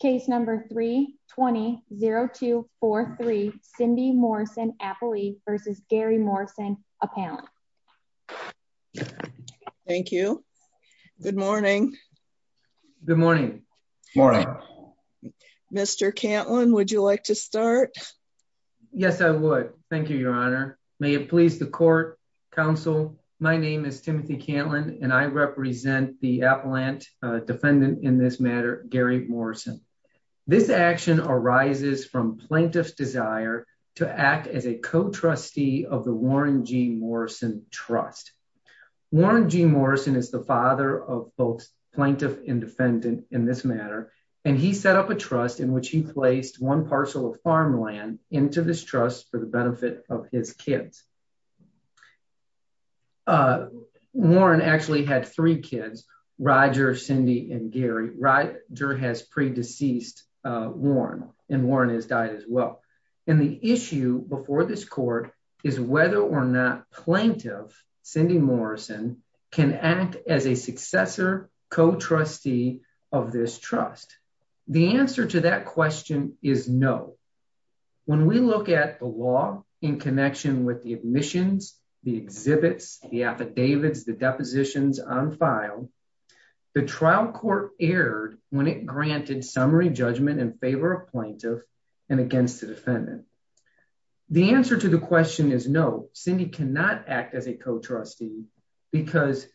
Case number 320243 Cindy Morrison-Appley v. Gary Morrison-Appellant. Thank you. Good morning. Good morning. Good morning. Mr. Cantlin, would you like to start? Yes, I would. Thank you, your honor. May it please the court, counsel, my name is Timothy Cantlin and I represent the Appellant defendant in this matter, Gary Morrison. This action arises from plaintiff's desire to act as a co-trustee of the Warren G. Morrison Trust. Warren G. Morrison is the father of both plaintiff and defendant in this matter, and he set up a trust in which he placed one parcel of farmland into this trust for the benefit of his kids. Warren actually had three kids, Roger, Cindy, and Gary. Roger has pre-deceased Warren, and Warren has died as well. And the issue before this court is whether or not plaintiff Cindy Morrison can act as a successor co-trustee of this trust. The answer to that question is no. When we look at the law in connection with the admissions, the exhibits, the affidavits, the depositions on file, the trial court erred when it granted summary judgment in favor of plaintiff and against the defendant. The answer to the question is no, Cindy cannot act as a co-trustee because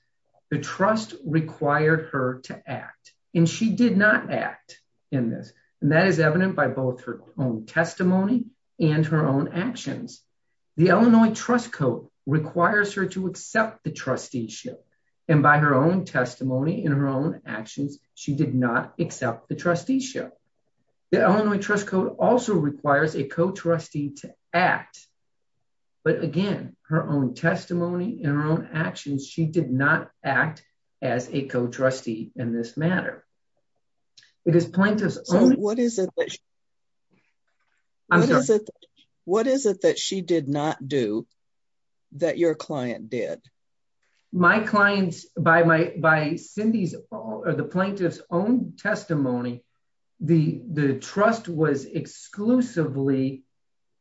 the trust required her to act, and she did not act in this. And that is evident by both her own testimony and her own actions. The Illinois Trust Code requires her to accept the trusteeship, and by her own testimony and her own actions, she did not accept the trusteeship. The Illinois Trust Code also requires a co-trustee to act, but again, her own testimony and her own actions. What is it that she did not do that your client did? My client, by Cindy's, or the plaintiff's own testimony, the trust was exclusively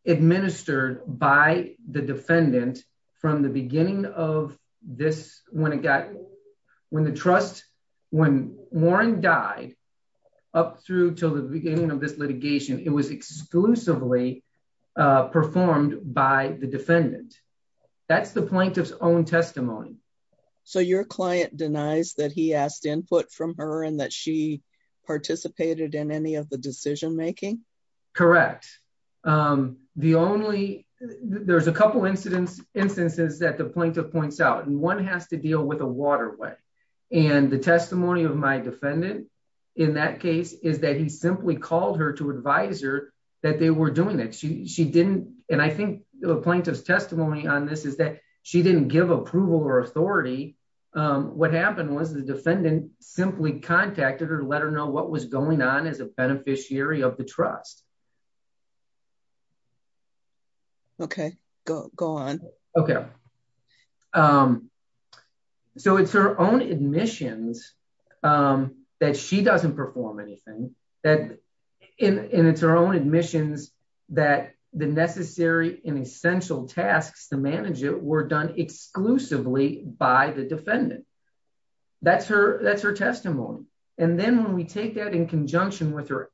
administered by the defendant from the beginning of this, when it got, when the trust, when Warren died, up through to the beginning of this litigation, it was exclusively performed by the defendant. That's the plaintiff's own testimony. So your client denies that he asked input from her and that she participated in any of the decision making? Correct. The only, there's a couple incidents, instances that the plaintiff points out, and one has to deal with a waterway. And the testimony of my defendant in that case is that he simply called her to advise her that they were doing that. She didn't, and I think the plaintiff's testimony on this is that she didn't give approval or authority. What happened was the defendant simply contacted her to let her know what was going on as a beneficiary of the trust. Okay, go, go on. Okay. So it's her own admissions that she doesn't perform anything that, and it's her own admissions that the necessary and essential tasks to manage it were done exclusively by the defendant. That's her, that's her testimony. And then when we take that in conjunction with her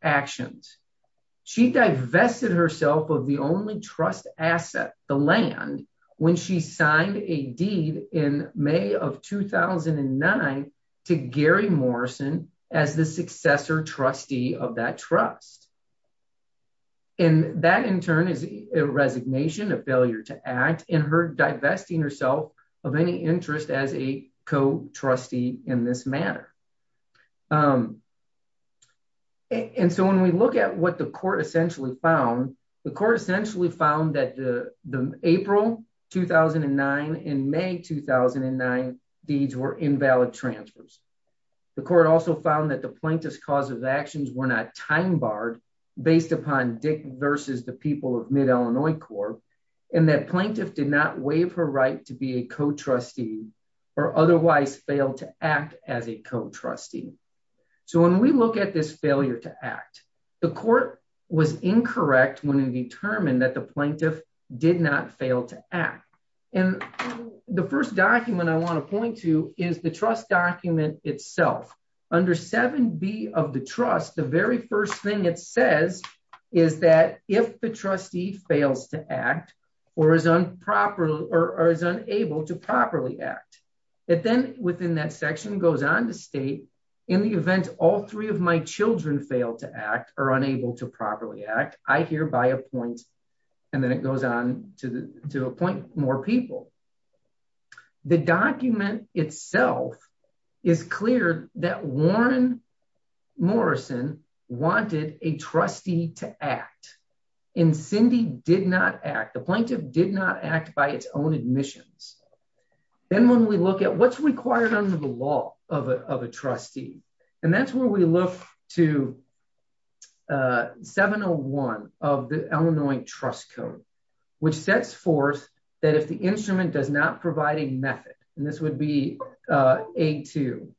she divested herself of the only trust asset, the land, when she signed a deed in May of 2009 to Gary Morrison as the successor trustee of that trust. And that in turn is a resignation, a failure to act, and her divesting herself of any interest as a co-trustee in this matter. And so when we look at what the court essentially found, the court essentially found that the April 2009 and May 2009 deeds were invalid transfers. The court also found that the plaintiff's cause of actions were not time barred based upon Dick versus the people of Mid-Illinois Corp, and that plaintiff did not waive her right to be a co-trustee or otherwise fail to act as a co-trustee. So when we look at this failure to act, the court was incorrect when it determined that the plaintiff did not fail to act. And the first document I want to point to is the trust document itself. Under 7b of the trust, the very first thing it says is that if the trustee fails to act or is unproper or is unable to properly act, it then within that section goes on to state in the event all three of my children fail to act or unable to properly act, I hereby appoint, and then it goes on to the to appoint more people. The document itself is clear that Warren Morrison wanted a trustee to then when we look at what's required under the law of a trustee, and that's where we look to 701 of the Illinois trust code, which sets forth that if the instrument does not provide a method, and this would be a two,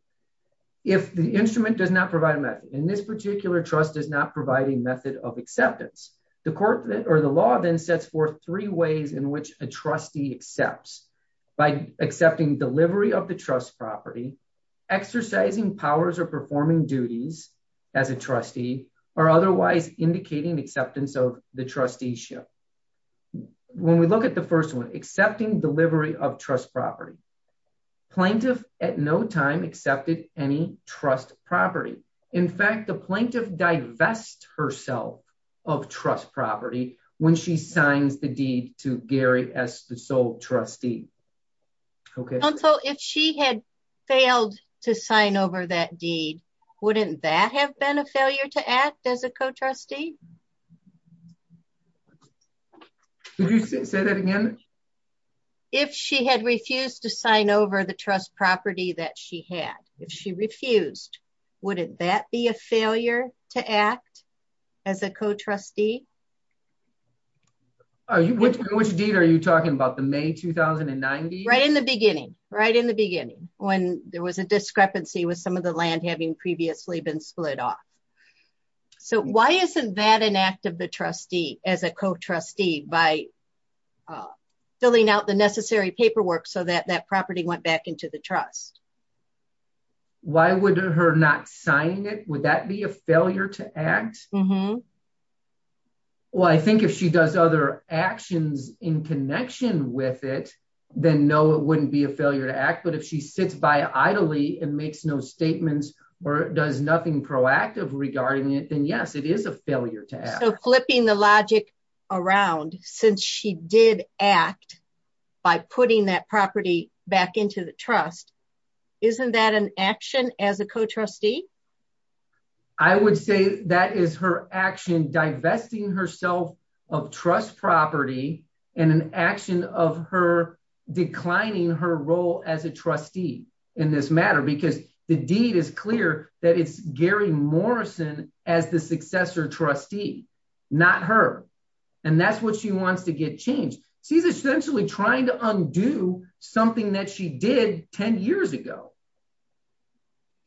if the instrument does not provide a method, and this particular trust is not providing method of acceptance, the court or the law then sets forth three ways in which a trustee accepts by accepting delivery of the trust property, exercising powers or performing duties as a trustee, or otherwise indicating acceptance of the trusteeship. When we look at the first one, accepting delivery of trust property, plaintiff at no time accepted any trust property. In fact, the plaintiff divest herself of trust property when she signs the sole trustee. If she had failed to sign over that deed, wouldn't that have been a failure to act as a co-trustee? If she had refused to sign over the trust property that she had, if she refused, wouldn't that be a failure to act as a co-trustee? Oh, which deed are you talking about? The May 2090? Right in the beginning, right in the beginning, when there was a discrepancy with some of the land having previously been split off. So why isn't that an act of the trustee as a co-trustee by filling out the necessary paperwork so that that property went back into the trust? Why would her not sign it? Would that be a failure to act? Well, I think if she does other actions in connection with it, then no, it wouldn't be a failure to act. But if she sits by idly and makes no statements or does nothing proactive regarding it, then yes, it is a failure to act. So flipping the logic around, since she did act by putting that property back into the trust, isn't that an action as a co-trustee? I would say that is her action, divesting herself of trust property and an action of her declining her role as a trustee in this matter, because the deed is clear that it's Gary Morrison as the successor trustee, not her. And that's what she wants to get changed. She's essentially trying to undo something that she did 10 years ago.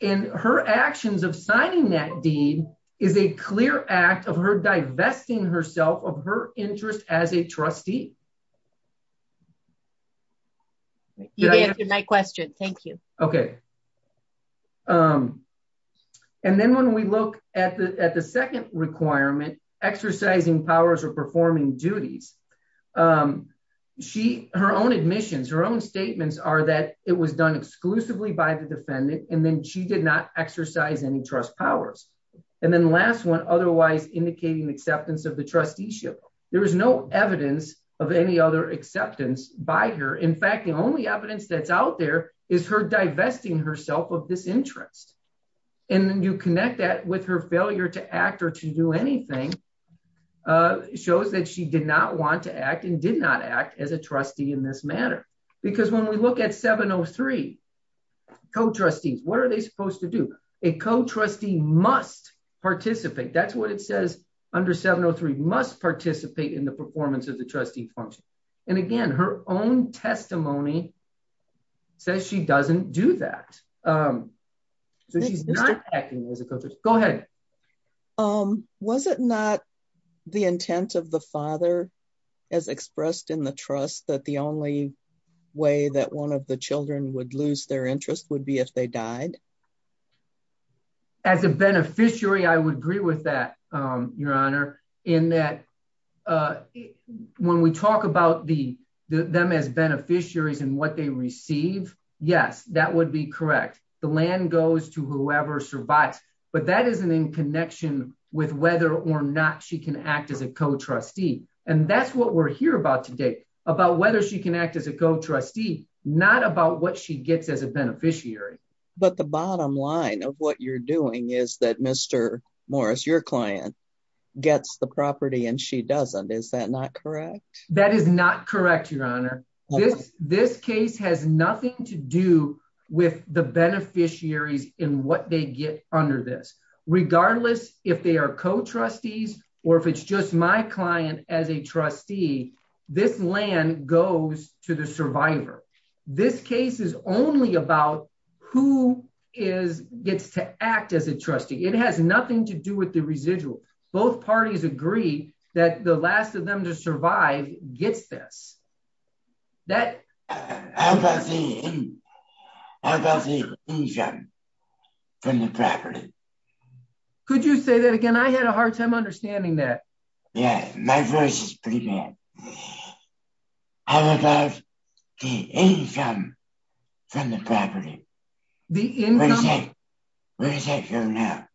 And her actions of signing that deed is a clear act of her divesting herself of her interest as a trustee. You answered my question. Thank you. Okay. And then when we look at the second requirement, exercising powers or performing duties, her own admissions, her own statements are that it was done exclusively by the defendant. And then she did not exercise any trust powers. And then last one, otherwise indicating acceptance of the trusteeship. There was no evidence of any other acceptance by her. In fact, the only evidence that's out there is her divesting herself of this interest. And then you connect that with her failure to act or to do anything, shows that she did not want to act and did not act as a trustee in this matter. Because when we look at 703, co-trustees, what are they supposed to do? A co-trustee must participate. That's what it says under 703, must participate in the performance of the trustee and again, her own testimony says she doesn't do that. So she's not acting as a co-trustee. Go ahead. Was it not the intent of the father as expressed in the trust that the only way that one of the children would lose their interest would be if they died? As a beneficiary, I would agree with that, Your Honor, in that when we talk about them as beneficiaries and what they receive, yes, that would be correct. The land goes to whoever survives, but that isn't in connection with whether or not she can act as a co-trustee. And that's what we're here about today, about whether she can act as a co-trustee, not about what she gets as a beneficiary. But the bottom line of what you're doing is that Mr. Morris, your client, gets the property and she doesn't. Is that not correct? That is not correct, Your Honor. This case has nothing to do with the beneficiaries and what they get under this. Regardless if they are co-trustees or if it's just my client as a trustee, this land goes to the survivor. This case is only about who gets to act as a trustee. It has nothing to do with the residual. Both parties agree that the last of them to survive gets this. How about the income from the property? Could you say that again? I had a hard time understanding that. Yeah, my voice is pretty bad. How about the income from the property? Where does that go now?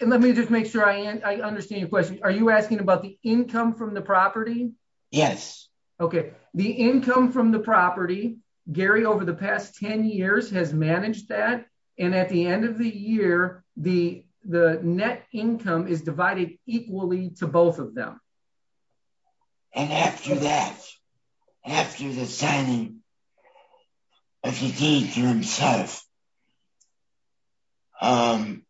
Let me just make sure I understand your question. Are you asking about the income from the property? Yes. Okay. The income from the property, Gary, over the past 10 years has managed that and at the end of the year, the net income is divided equally to both of them. And after that, after the signing of the deed to himself, who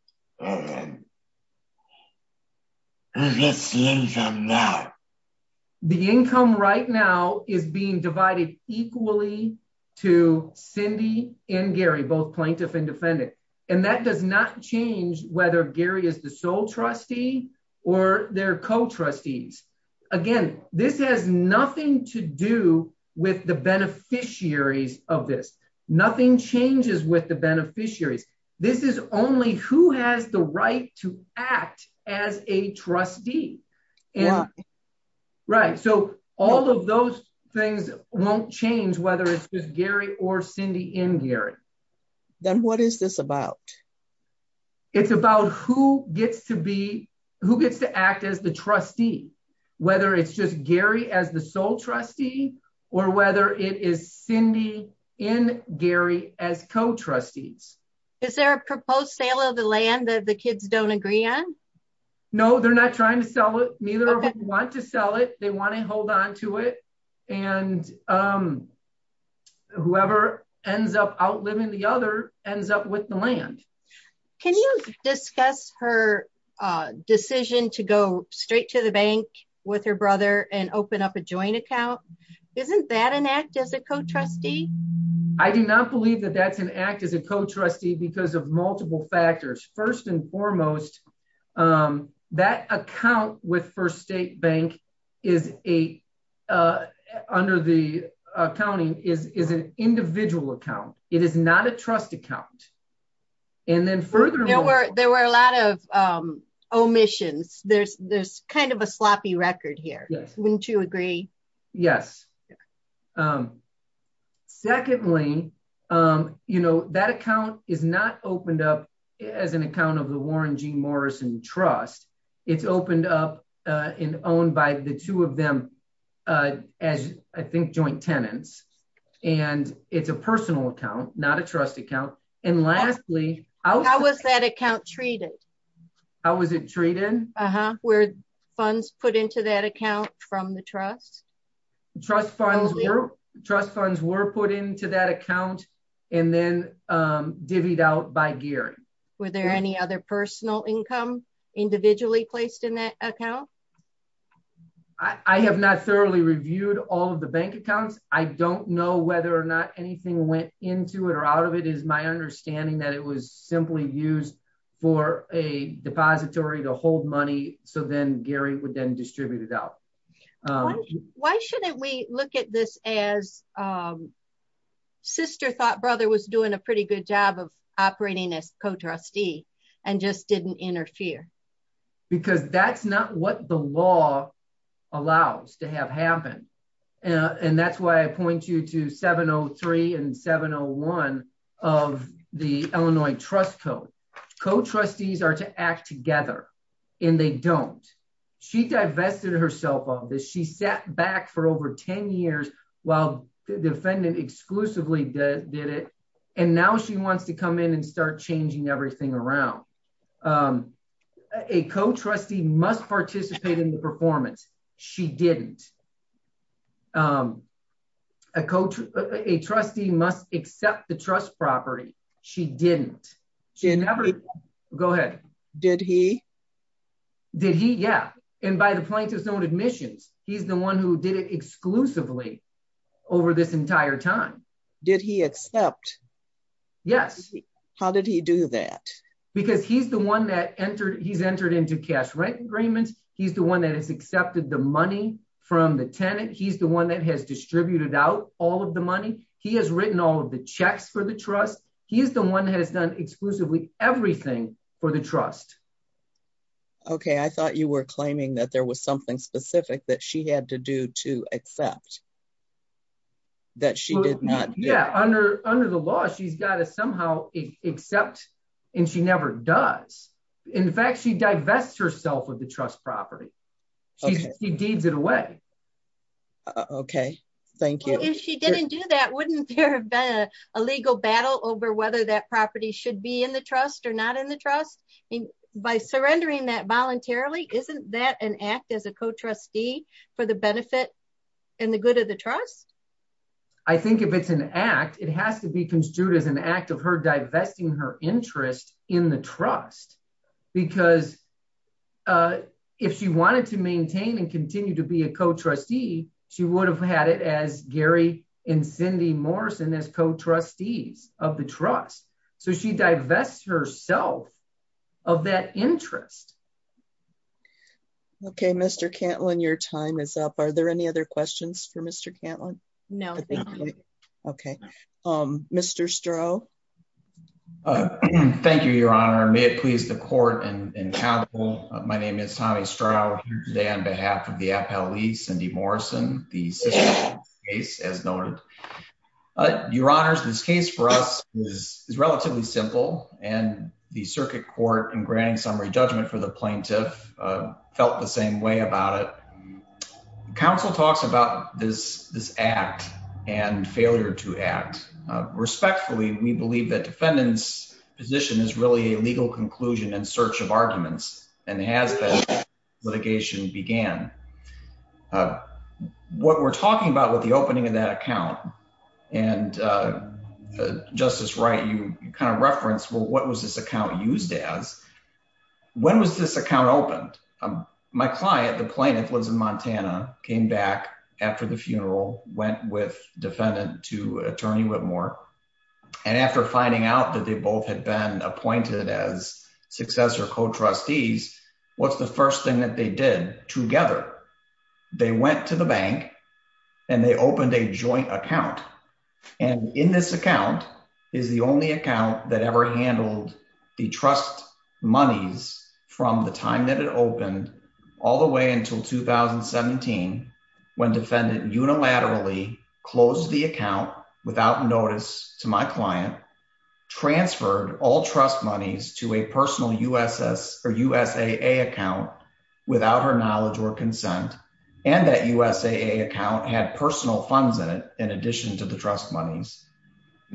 gets the income now? The income right now is being divided equally to Cindy and Gary, both plaintiff and defendant, and that does not change whether Gary is the sole trustee or their co-trustees. Again, this has nothing to do with the beneficiaries of this. Nothing changes with the beneficiaries. This is only who has the right to act as a trustee. Right. So all of those things won't change whether it's just Gary or Cindy and Gary. Then what is this about? It's about who gets to act as the trustee, whether it's just Gary as the sole trustee or whether it is Cindy and Gary as co-trustees. Is there a proposed sale of the land that the kids don't agree on? No, they're not trying to sell it. Neither of them want to sell it. They want to hold on to it and whoever ends up outliving the other ends up with the land. Can you discuss her decision to go straight to the bank with her brother and open up a joint account? Isn't that an act as a co-trustee? I do not believe that that's an act as a co-trustee because of multiple factors. First and foremost, that account with First State Bank under the accounting is an individual account. It is not a trust account. There were a lot of yes. Secondly, that account is not opened up as an account of the Warren G. Morrison Trust. It's opened up and owned by the two of them as I think joint tenants. It's a personal account, not a trust account. Lastly, how was that account treated? How was it treated? Were funds put into that account from the trust? Trust funds were put into that account and then divvied out by gearing. Were there any other personal income individually placed in that account? I have not thoroughly reviewed all of the bank accounts. I don't know whether or not anything went into it or out of it is my understanding that it was so then Gary would then distribute it out. Why shouldn't we look at this as sister thought brother was doing a pretty good job of operating as co-trustee and just didn't interfere? Because that's not what the law allows to have happen. That's why I point you to 703 and they don't. She divested herself of this. She sat back for over 10 years while the defendant exclusively did it and now she wants to come in and start changing everything around. A co-trustee must participate in the performance. She didn't. A trustee must accept the trust property. She didn't. Go ahead. Did he? Did he? Yeah. And by the plaintiff's own admissions, he's the one who did it exclusively over this entire time. Did he accept? Yes. How did he do that? Because he's the one that entered, he's entered into cash rent agreements. He's the one that has accepted the money from the tenant. He's the one that has distributed out all of the money. He has written all of the checks for trust. He's the one that has done exclusively everything for the trust. Okay. I thought you were claiming that there was something specific that she had to do to accept that she did not. Yeah. Under, under the law, she's got to somehow accept and she never does. In fact, she divests herself of the trust property. She deeds it away. Okay. Thank you. If she didn't a legal battle over whether that property should be in the trust or not in the trust by surrendering that voluntarily, isn't that an act as a co-trustee for the benefit and the good of the trust? I think if it's an act, it has to be construed as an act of her divesting her interest in the trust, because if she wanted to maintain and continue to be a co-trustee, she would have had it as Gary and Cindy Morrison as co-trustees of the trust. So she divests herself of that interest. Okay. Mr. Cantlin, your time is up. Are there any other questions for Mr. Cantlin? No. Okay. Mr. Stroh. Thank you, Your Honor. May it please the the system case as noted. Your Honors, this case for us is relatively simple and the circuit court in granting summary judgment for the plaintiff felt the same way about it. Council talks about this, this act and failure to act respectfully. We believe that defendant's position is really a legal conclusion in search of arguments and has been litigation began. What we're talking about with the opening of that account and Justice Wright, you kind of referenced, well, what was this account used as? When was this account opened? My client, the plaintiff lives in Montana, came back after the funeral, went with defendant to attorney Whitmore. And after finding out that they both had been appointed as successor co-trustees, what's the first thing that they did together? They went to the bank and they opened a joint account. And in this account is the only account that ever handled the trust monies from the time that it to my client, transferred all trust monies to a personal USS or USAA account without her knowledge or consent. And that USAA account had personal funds in it in addition to the trust monies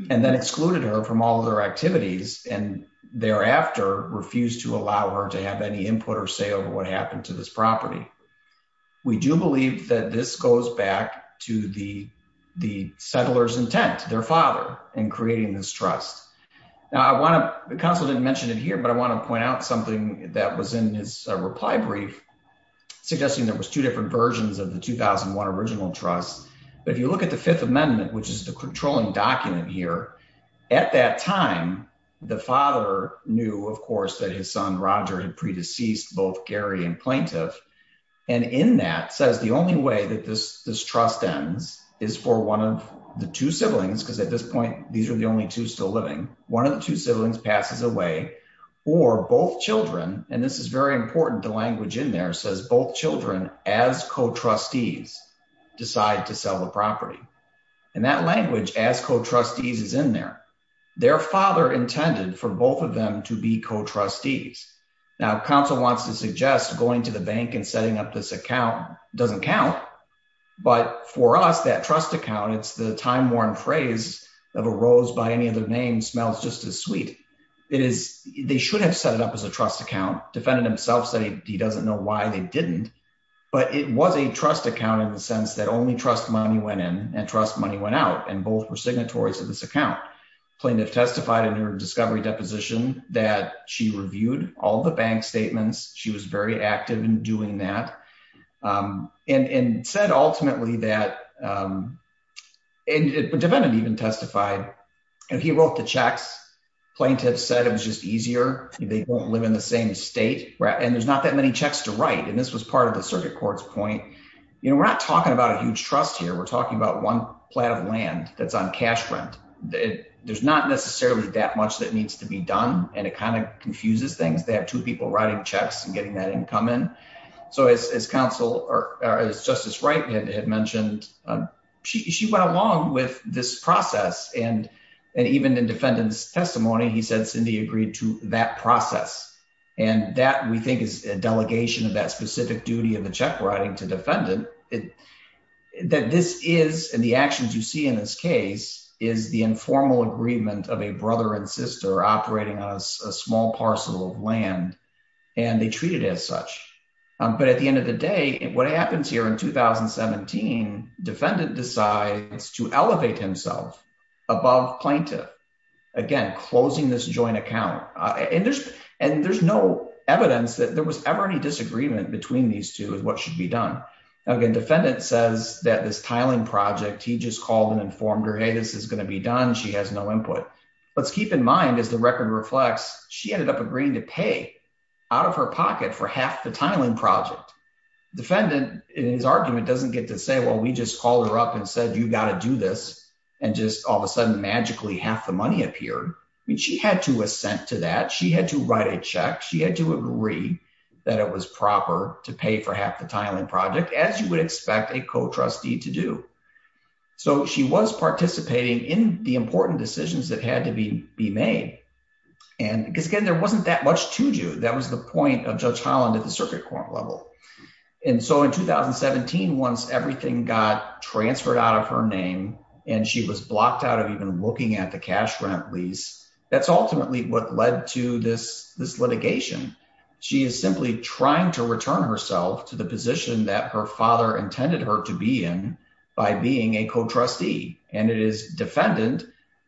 and then excluded her from all of their activities. And thereafter refused to allow her to have any input or say over what happened to this property. We do believe that this goes back to the settler's intent, their father in creating this trust. Now I want to, the counsel didn't mention it here, but I want to point out something that was in his reply brief, suggesting there was two different versions of the 2001 original trust. But if you look at the fifth amendment, which is the controlling document here, at that time, the father knew, of course, that his son Roger had pre-deceased both Gary and plaintiff. And in that says the only way that this trust ends is for one of the two siblings, because at this point, these are the only two still living. One of the two siblings passes away or both children, and this is very important, the language in there says both children as co-trustees decide to sell the property. And that language as co-trustees is in there. Their father intended for both of them to be co-trustees. Now counsel wants to suggest going to the bank and setting up this account doesn't count. But for us, that trust account, it's the time-worn phrase of a rose by any other name smells just as sweet. It is, they should have set it up as a trust account, defendant himself said he doesn't know why they didn't. But it was a trust account in the sense that only trust money went in and trust money went out and both were signatories of this account. Plaintiff testified in her discovery deposition that she reviewed all the bank statements. She was very active in doing that and said ultimately that, defendant even testified and he wrote the checks. Plaintiff said it was just easier. They won't live in the same state and there's not that many checks to write. And this was part of the circuit court's point. We're not talking about a huge trust here. We're talking about one plot of land that's on cash rent. There's not necessarily that much that needs to be done. And it kind of confuses things. They have two people writing checks and getting that income in. So as counsel or as Justice Wright had mentioned, she went along with this process and even in defendant's testimony, he said Cindy agreed to that process. And that we think is a delegation of that specific duty of the check writing to defendant. That this is, and the actions you see in this case, is the informal agreement of a brother and sister operating on a small parcel of land and they treat it as such. But at the end of the day, what happens here in 2017, defendant decides to elevate himself above plaintiff. Again, closing this joint account. And there's no evidence that there was ever any disagreement between these two as what should be done. Again, defendant says that this tiling project, he just called and she ended up agreeing to pay out of her pocket for half the tiling project. Defendant in his argument doesn't get to say, well, we just called her up and said, you got to do this. And just all of a sudden, magically half the money appeared. I mean, she had to assent to that. She had to write a check. She had to agree that it was proper to pay for half the tiling project as you would expect a co-trustee to do. So she was participating in the important decisions that had to be made. And again, there wasn't that much to do. That was the point of Judge Holland at the circuit court level. And so in 2017, once everything got transferred out of her name and she was blocked out of even looking at the cash grant lease, that's ultimately what led to this litigation. She is simply trying to return herself to the position that her father intended her to be in by being a co-trustee. And it is defendant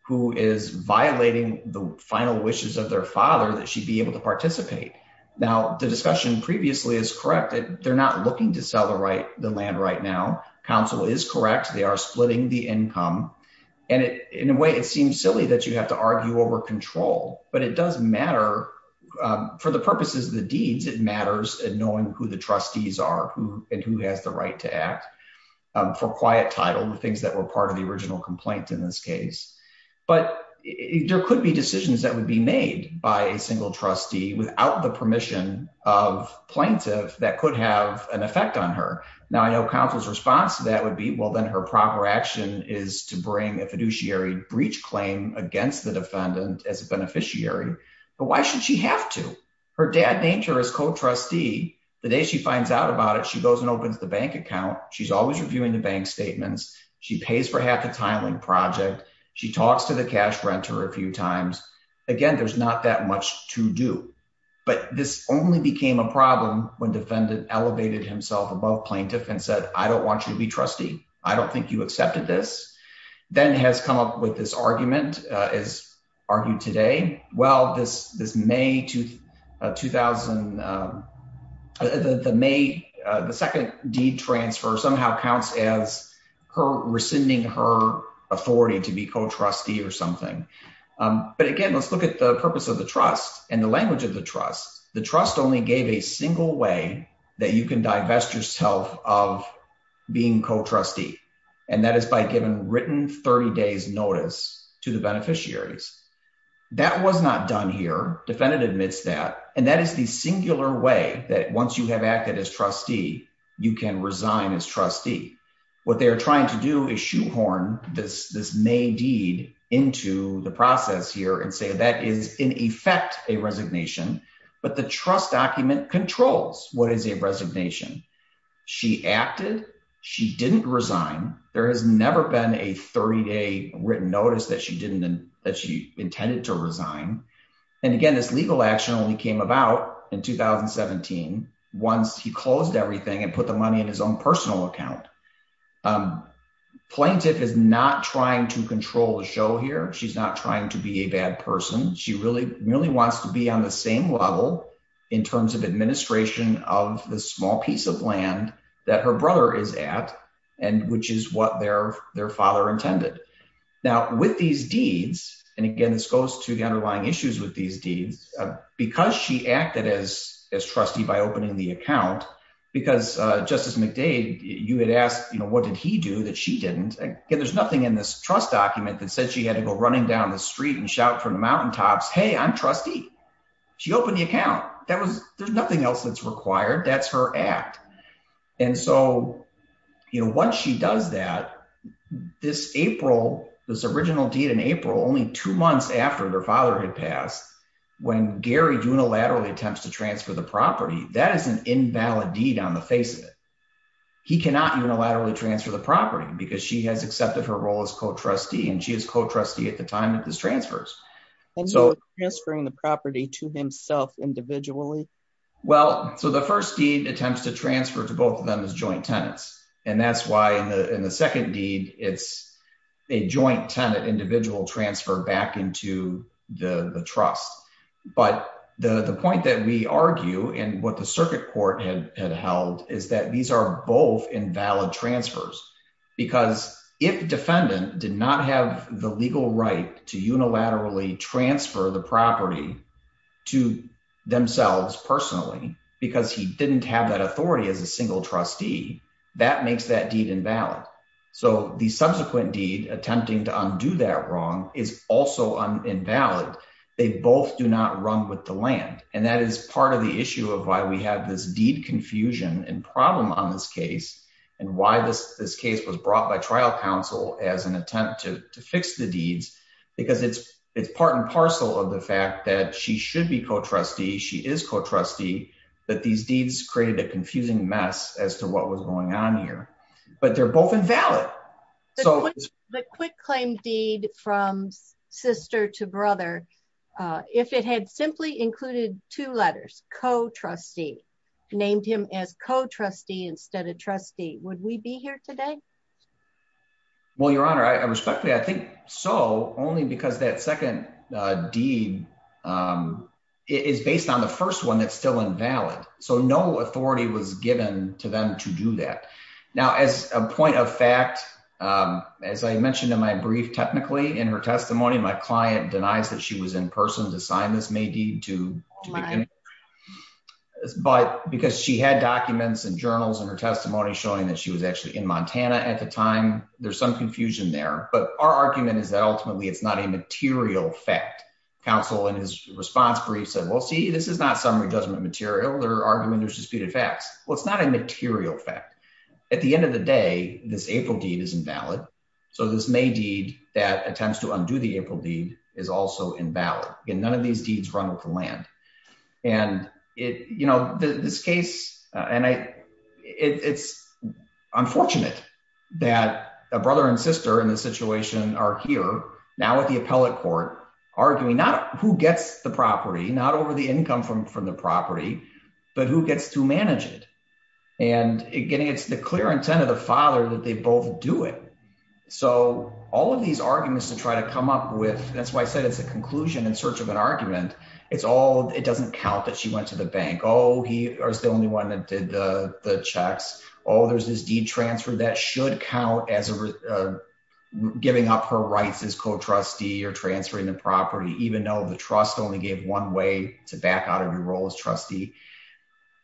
who is violating the final wishes of their father that she'd be able to participate. Now, the discussion previously is correct. They're not looking to sell the land right now. Counsel is correct. They are splitting the income. And in a way, it seems silly that you have to argue over control, but it does matter for the plaintiff to act for quiet title, the things that were part of the original complaint in this case. But there could be decisions that would be made by a single trustee without the permission of plaintiff that could have an effect on her. Now, I know counsel's response to that would be, well, then her proper action is to bring a fiduciary breach claim against the defendant as a beneficiary. But why should she have to? Her dad named her as co-trustee. The day she goes and opens the bank account, she's always reviewing the bank statements. She pays for half the time in project. She talks to the cash renter a few times. Again, there's not that much to do. But this only became a problem when defendant elevated himself above plaintiff and said, I don't want you to be trustee. I don't think you accepted this. Then has come up with this argument as argued today. Well, this May 2000, the May the second deed transfer somehow counts as her rescinding her authority to be co-trustee or something. But again, let's look at the purpose of the trust and the language of the trust. The trust only gave a single way that you can divest yourself of being co-trustee. And that is by giving written 30 days notice to the beneficiaries. That was not done here. Defendant admits that. And that is the singular way that once you have acted as trustee, you can resign as trustee. What they are trying to do is shoehorn this May deed into the process here and say that is in effect a resignation. But the trust document controls what is a resignation. She acted. She didn't resign. There has never been a 30 day written notice that she didn't that she intended to resign. And again, this legal action only came about in 2017 once he closed everything and put the money in his own personal account. Plaintiff is not trying to control the show here. She's not trying to be a bad person. She really wants to be on the same level in terms of administration of the small piece of land that her brother is at and which is what their father intended. Now, with these deeds, and again, this goes to the underlying issues with these deeds, because she acted as trustee by opening the account, because Justice McDade, you had asked what did he do that she didn't. Again, there's nothing in this trust document that said she had to go running down the street and shout from the mountaintops, hey, I'm trustee. She opened the account that was there's nothing else that's required. That's her act. And so, you know, once she does that, this April, this original deed in April, only two months after their father had passed, when Gary unilaterally attempts to transfer the property, that is an invalid deed on the face of it. He cannot unilaterally transfer the property because she has accepted her role as co trustee and she is co trustee at the time this transfers. So transferring the property to himself individually. Well, so the first deed attempts to transfer to both of them as joint tenants. And that's why in the second deed, it's a joint tenant individual transfer back into the trust. But the point that we argue and what the circuit court had held is that these are both invalid transfers. Because if defendant did not have the legal right to unilaterally transfer the property to themselves personally, because he didn't have that authority as a single trustee, that makes that deed invalid. So the subsequent deed attempting to undo that wrong is also invalid. They both do not run with the land. And that is part of the issue of why we have this deed confusion and problem on this case. And why this case was brought by trial counsel as an attempt to fix the deeds. Because it's, it's part and parcel of the fact that she should be co trustee, she is co trustee, that these deeds created a confusing mess as to what was going on here. But they're both invalid. So the quick claim deed from sister to brother, if it had simply included two letters co trustee, named him as co trustee instead of trustee, would we be here today? Well, Your Honor, I respectfully, I think so only because that second deed is based on the first one that's still invalid. So no authority was given to them to do that. Now, as a point of fact, as I mentioned in my brief, technically, in her testimony, my client denies that she was in person to sign this may deed to mine. But because she had documents and journals and her testimony showing that she was actually in Montana at the time, there's some confusion there. But our argument is that ultimately, it's not a material fact. counsel in his response brief said, Well, see, this is not summary judgment material, their argument or disputed facts. Well, it's not a material fact. At the end of the day, this April deed is invalid. So this may deed that attempts to undo the April deed is also invalid, and none of these deeds run with the land. And it you know, this case, and I, it's unfortunate that a brother and sister in this situation are here now at the appellate court, arguing not who gets the property, not over the income from from the property, but who gets to manage it. And again, it's the clear intent of the father that they both do it. So all of these arguments to try to come up with, that's why I said it's a conclusion in search of an argument. It's all it doesn't count that she went to the bank, oh, he was the only one that did the checks. Oh, there's this deed transfer that should count as giving up her rights as co trustee or transferring the property, even though the trust only gave one way to back out of your role as trustee.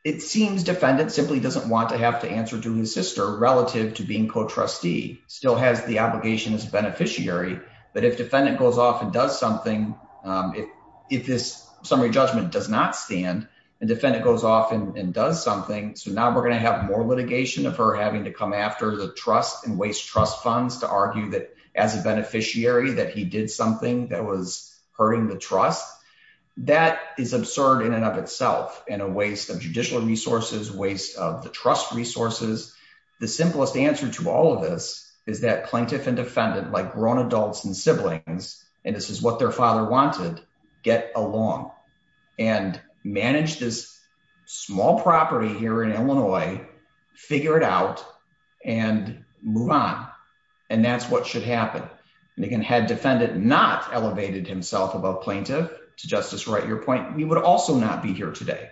It seems defendant simply doesn't want to have to answer to his sister relative to being co trustee still has the obligation as a beneficiary. But if defendant goes off and does something, if, if this summary judgment does not stand, and defendant goes off and does something. So now we're going to have more litigation of her having to come after the trust and waste trust funds to argue that as a beneficiary that he did something that was hurting the trust. That is absurd in and of itself and a waste of judicial resources, waste of the trust resources. The simplest answer to all of this is that plaintiff and defendant like grown adults and siblings, and this is what their father wanted, get along and manage this small property here in Illinois, figure it out and move on. And that's what should happen. And again, had defendant not elevated himself above plaintiff to justice, right, your point, we would also not be here today.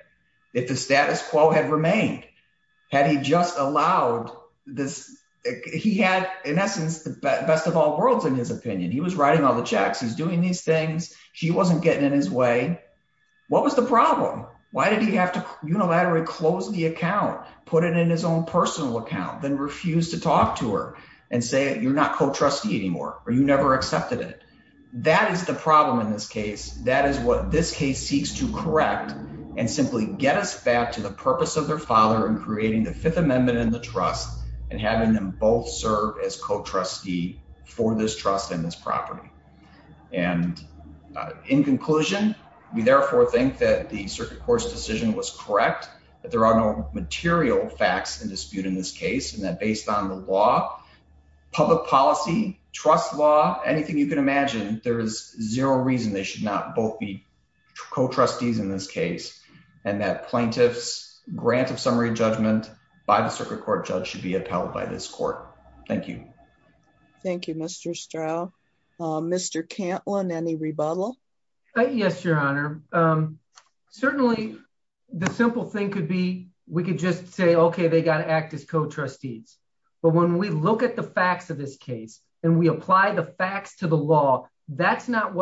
If the status quo had remained, had he just allowed this, he had, in essence, the best of all worlds, in his opinion, he was writing all the checks, he's doing these things, she wasn't getting in his way. What was the problem? Why did he have to unilaterally close the account, put it in his own personal account, then refuse to talk to her and say, you're not co trustee anymore, or you never accepted it. That is the problem. In this case, that is what this case seeks to correct, and simply get us back to the purpose of their father and creating the Fifth Amendment in the trust, and having them both serve as co trustee for this trust in this property. And in conclusion, we therefore think that the circuit court's decision was correct, that there are no material facts and dispute in this case, and that based on the law, public policy, trust law, anything you can imagine, there is zero reason they should not both be co trustees in this case, and that plaintiffs grant of summary judgment by the circuit court judge should be upheld by this court. Thank you. Thank you, Mr. Straub. Mr. Cantlin, any rebuttal? Yes, Your Honor. Certainly, the simple thing could be, we could just say, okay, they got to act as co trustees. But when we look at the facts of this case, what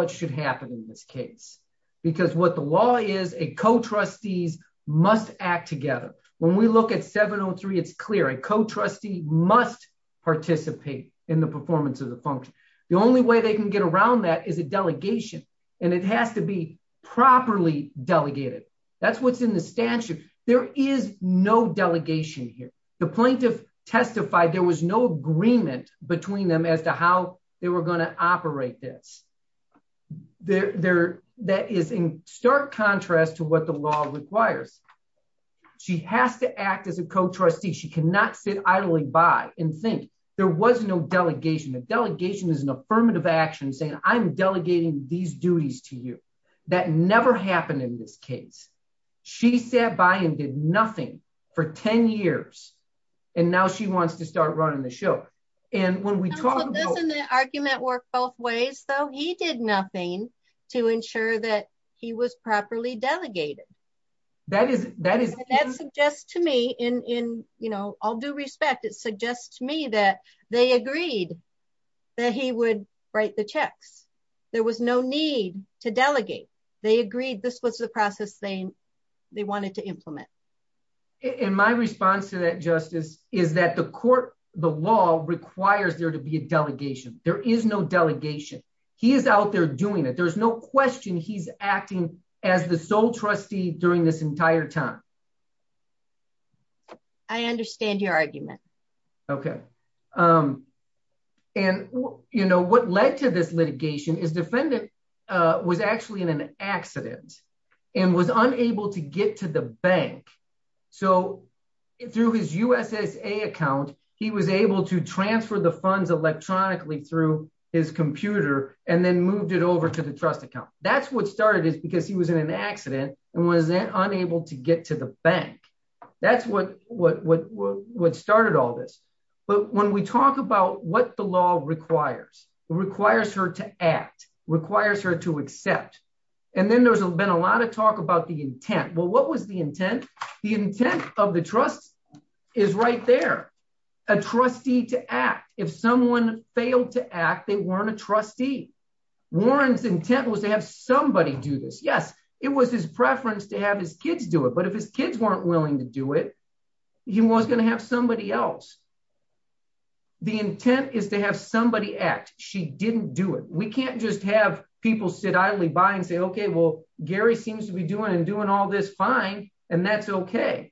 should happen in this case? Because what the law is, a co trustees must act together. When we look at 703, it's clear, a co trustee must participate in the performance of the function. The only way they can get around that is a delegation. And it has to be properly delegated. That's what's in the statute. There is no delegation here. The plaintiff testified there was no agreement between them as to how they were going to operate this. That is in stark contrast to what the law requires. She has to act as a co trustee. She cannot sit idly by and think. There was no delegation. A delegation is an affirmative action saying, I'm delegating these duties to you. That never happened in this case. She sat by and did nothing for 10 years, and now she wants to start running the show. Doesn't the argument work both ways, though? He did nothing to ensure that he was properly delegated. That suggests to me, in all due respect, it suggests to me that they agreed that he would write the checks. There was no need to delegate. They agreed this was the process they wanted to implement. In my response to is that the court, the law requires there to be a delegation. There is no delegation. He is out there doing it. There's no question he's acting as the sole trustee during this entire time. I understand your argument. Okay. And, you know, what led to this litigation is defendant was actually in an accident and was unable to get to the bank. So through his USSA account, he was able to transfer the funds electronically through his computer and then moved it over to the trust account. That's what started it because he was in an accident and was unable to get to the bank. That's what started all this. But when we talk about what the law requires, it requires her to act, requires her to accept. And then there's been a lot of talk about the intent. Well, what was the intent? The intent of the trust is right there. A trustee to act. If someone failed to act, they weren't a trustee. Warren's intent was to have somebody do this. Yes, it was his preference to have his kids do it. But if his kids weren't willing to do it, he was going to have somebody else. The intent is to have somebody act. She didn't do it. We can't just have people sit idly by and say, okay, well, Gary seems to be doing and doing all this fine. And that's okay.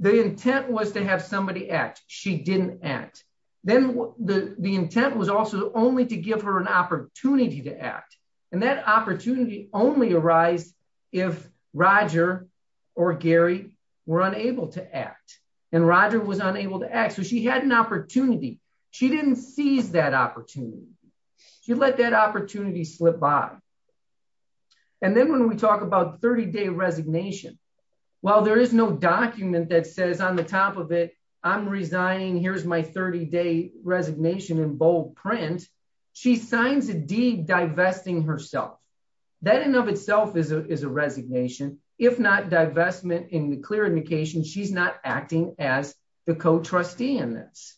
The intent was to have somebody act. She didn't act. Then the intent was also only to give her an opportunity to act. And that opportunity only arised if Roger or Gary were to act. And Roger was unable to act. So she had an opportunity. She didn't seize that opportunity. She let that opportunity slip by. And then when we talk about 30-day resignation, while there is no document that says on the top of it, I'm resigning, here's my 30-day resignation in bold print, she signs a deed divesting herself. That in and of itself is a resignation. If not divestment in the clear indication, she's not acting as the co-trustee in this.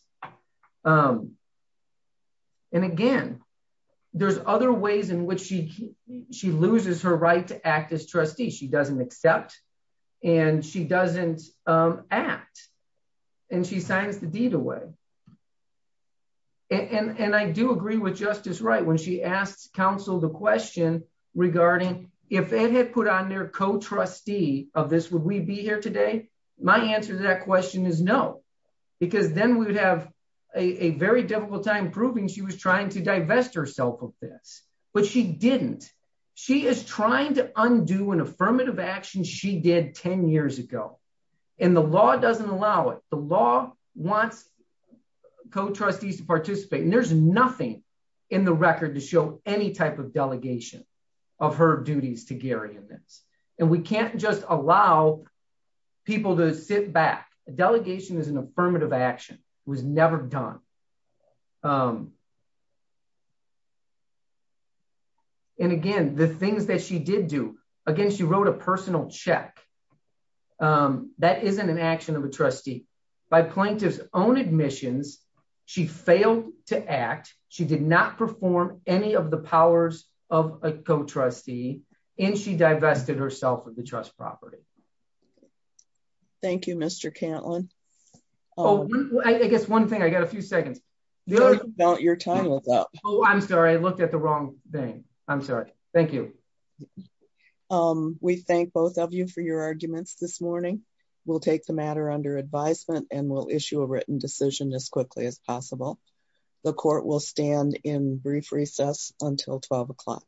And again, there's other ways in which she loses her right to act as trustee. She doesn't accept. And she doesn't act. And she signs the deed away. And I do agree with Justice Wright, when she asked counsel the question regarding if Ed had put on their co-trustee of this, would we be here today? My answer to that question is no. Because then we would have a very difficult time proving she was trying to divest herself of this. But she didn't. She is trying to undo an affirmative action she did 10 years ago. And the law doesn't allow it. The law wants co-trustees to participate. And there's nothing in the record to show any type of delegation of her duties to Gary in this. And we can't just allow people to sit back. Delegation is an affirmative action. It was never done. And again, the things that she did do, again, she wrote a personal check. That isn't an action of a trustee. By plaintiff's own admissions, she failed to act. She did not perform any of the powers of a co-trustee. And she divested herself of the trust property. Thank you, Mr. Cantlin. I guess one thing, I got a few seconds. Your time is up. Oh, I'm sorry. I looked at the wrong thing. I'm sorry. Thank you. We thank both of you for your arguments this morning. We'll take the matter under advisement and we'll issue a written decision as quickly as possible. The court will stand in brief recess until 12 o'clock.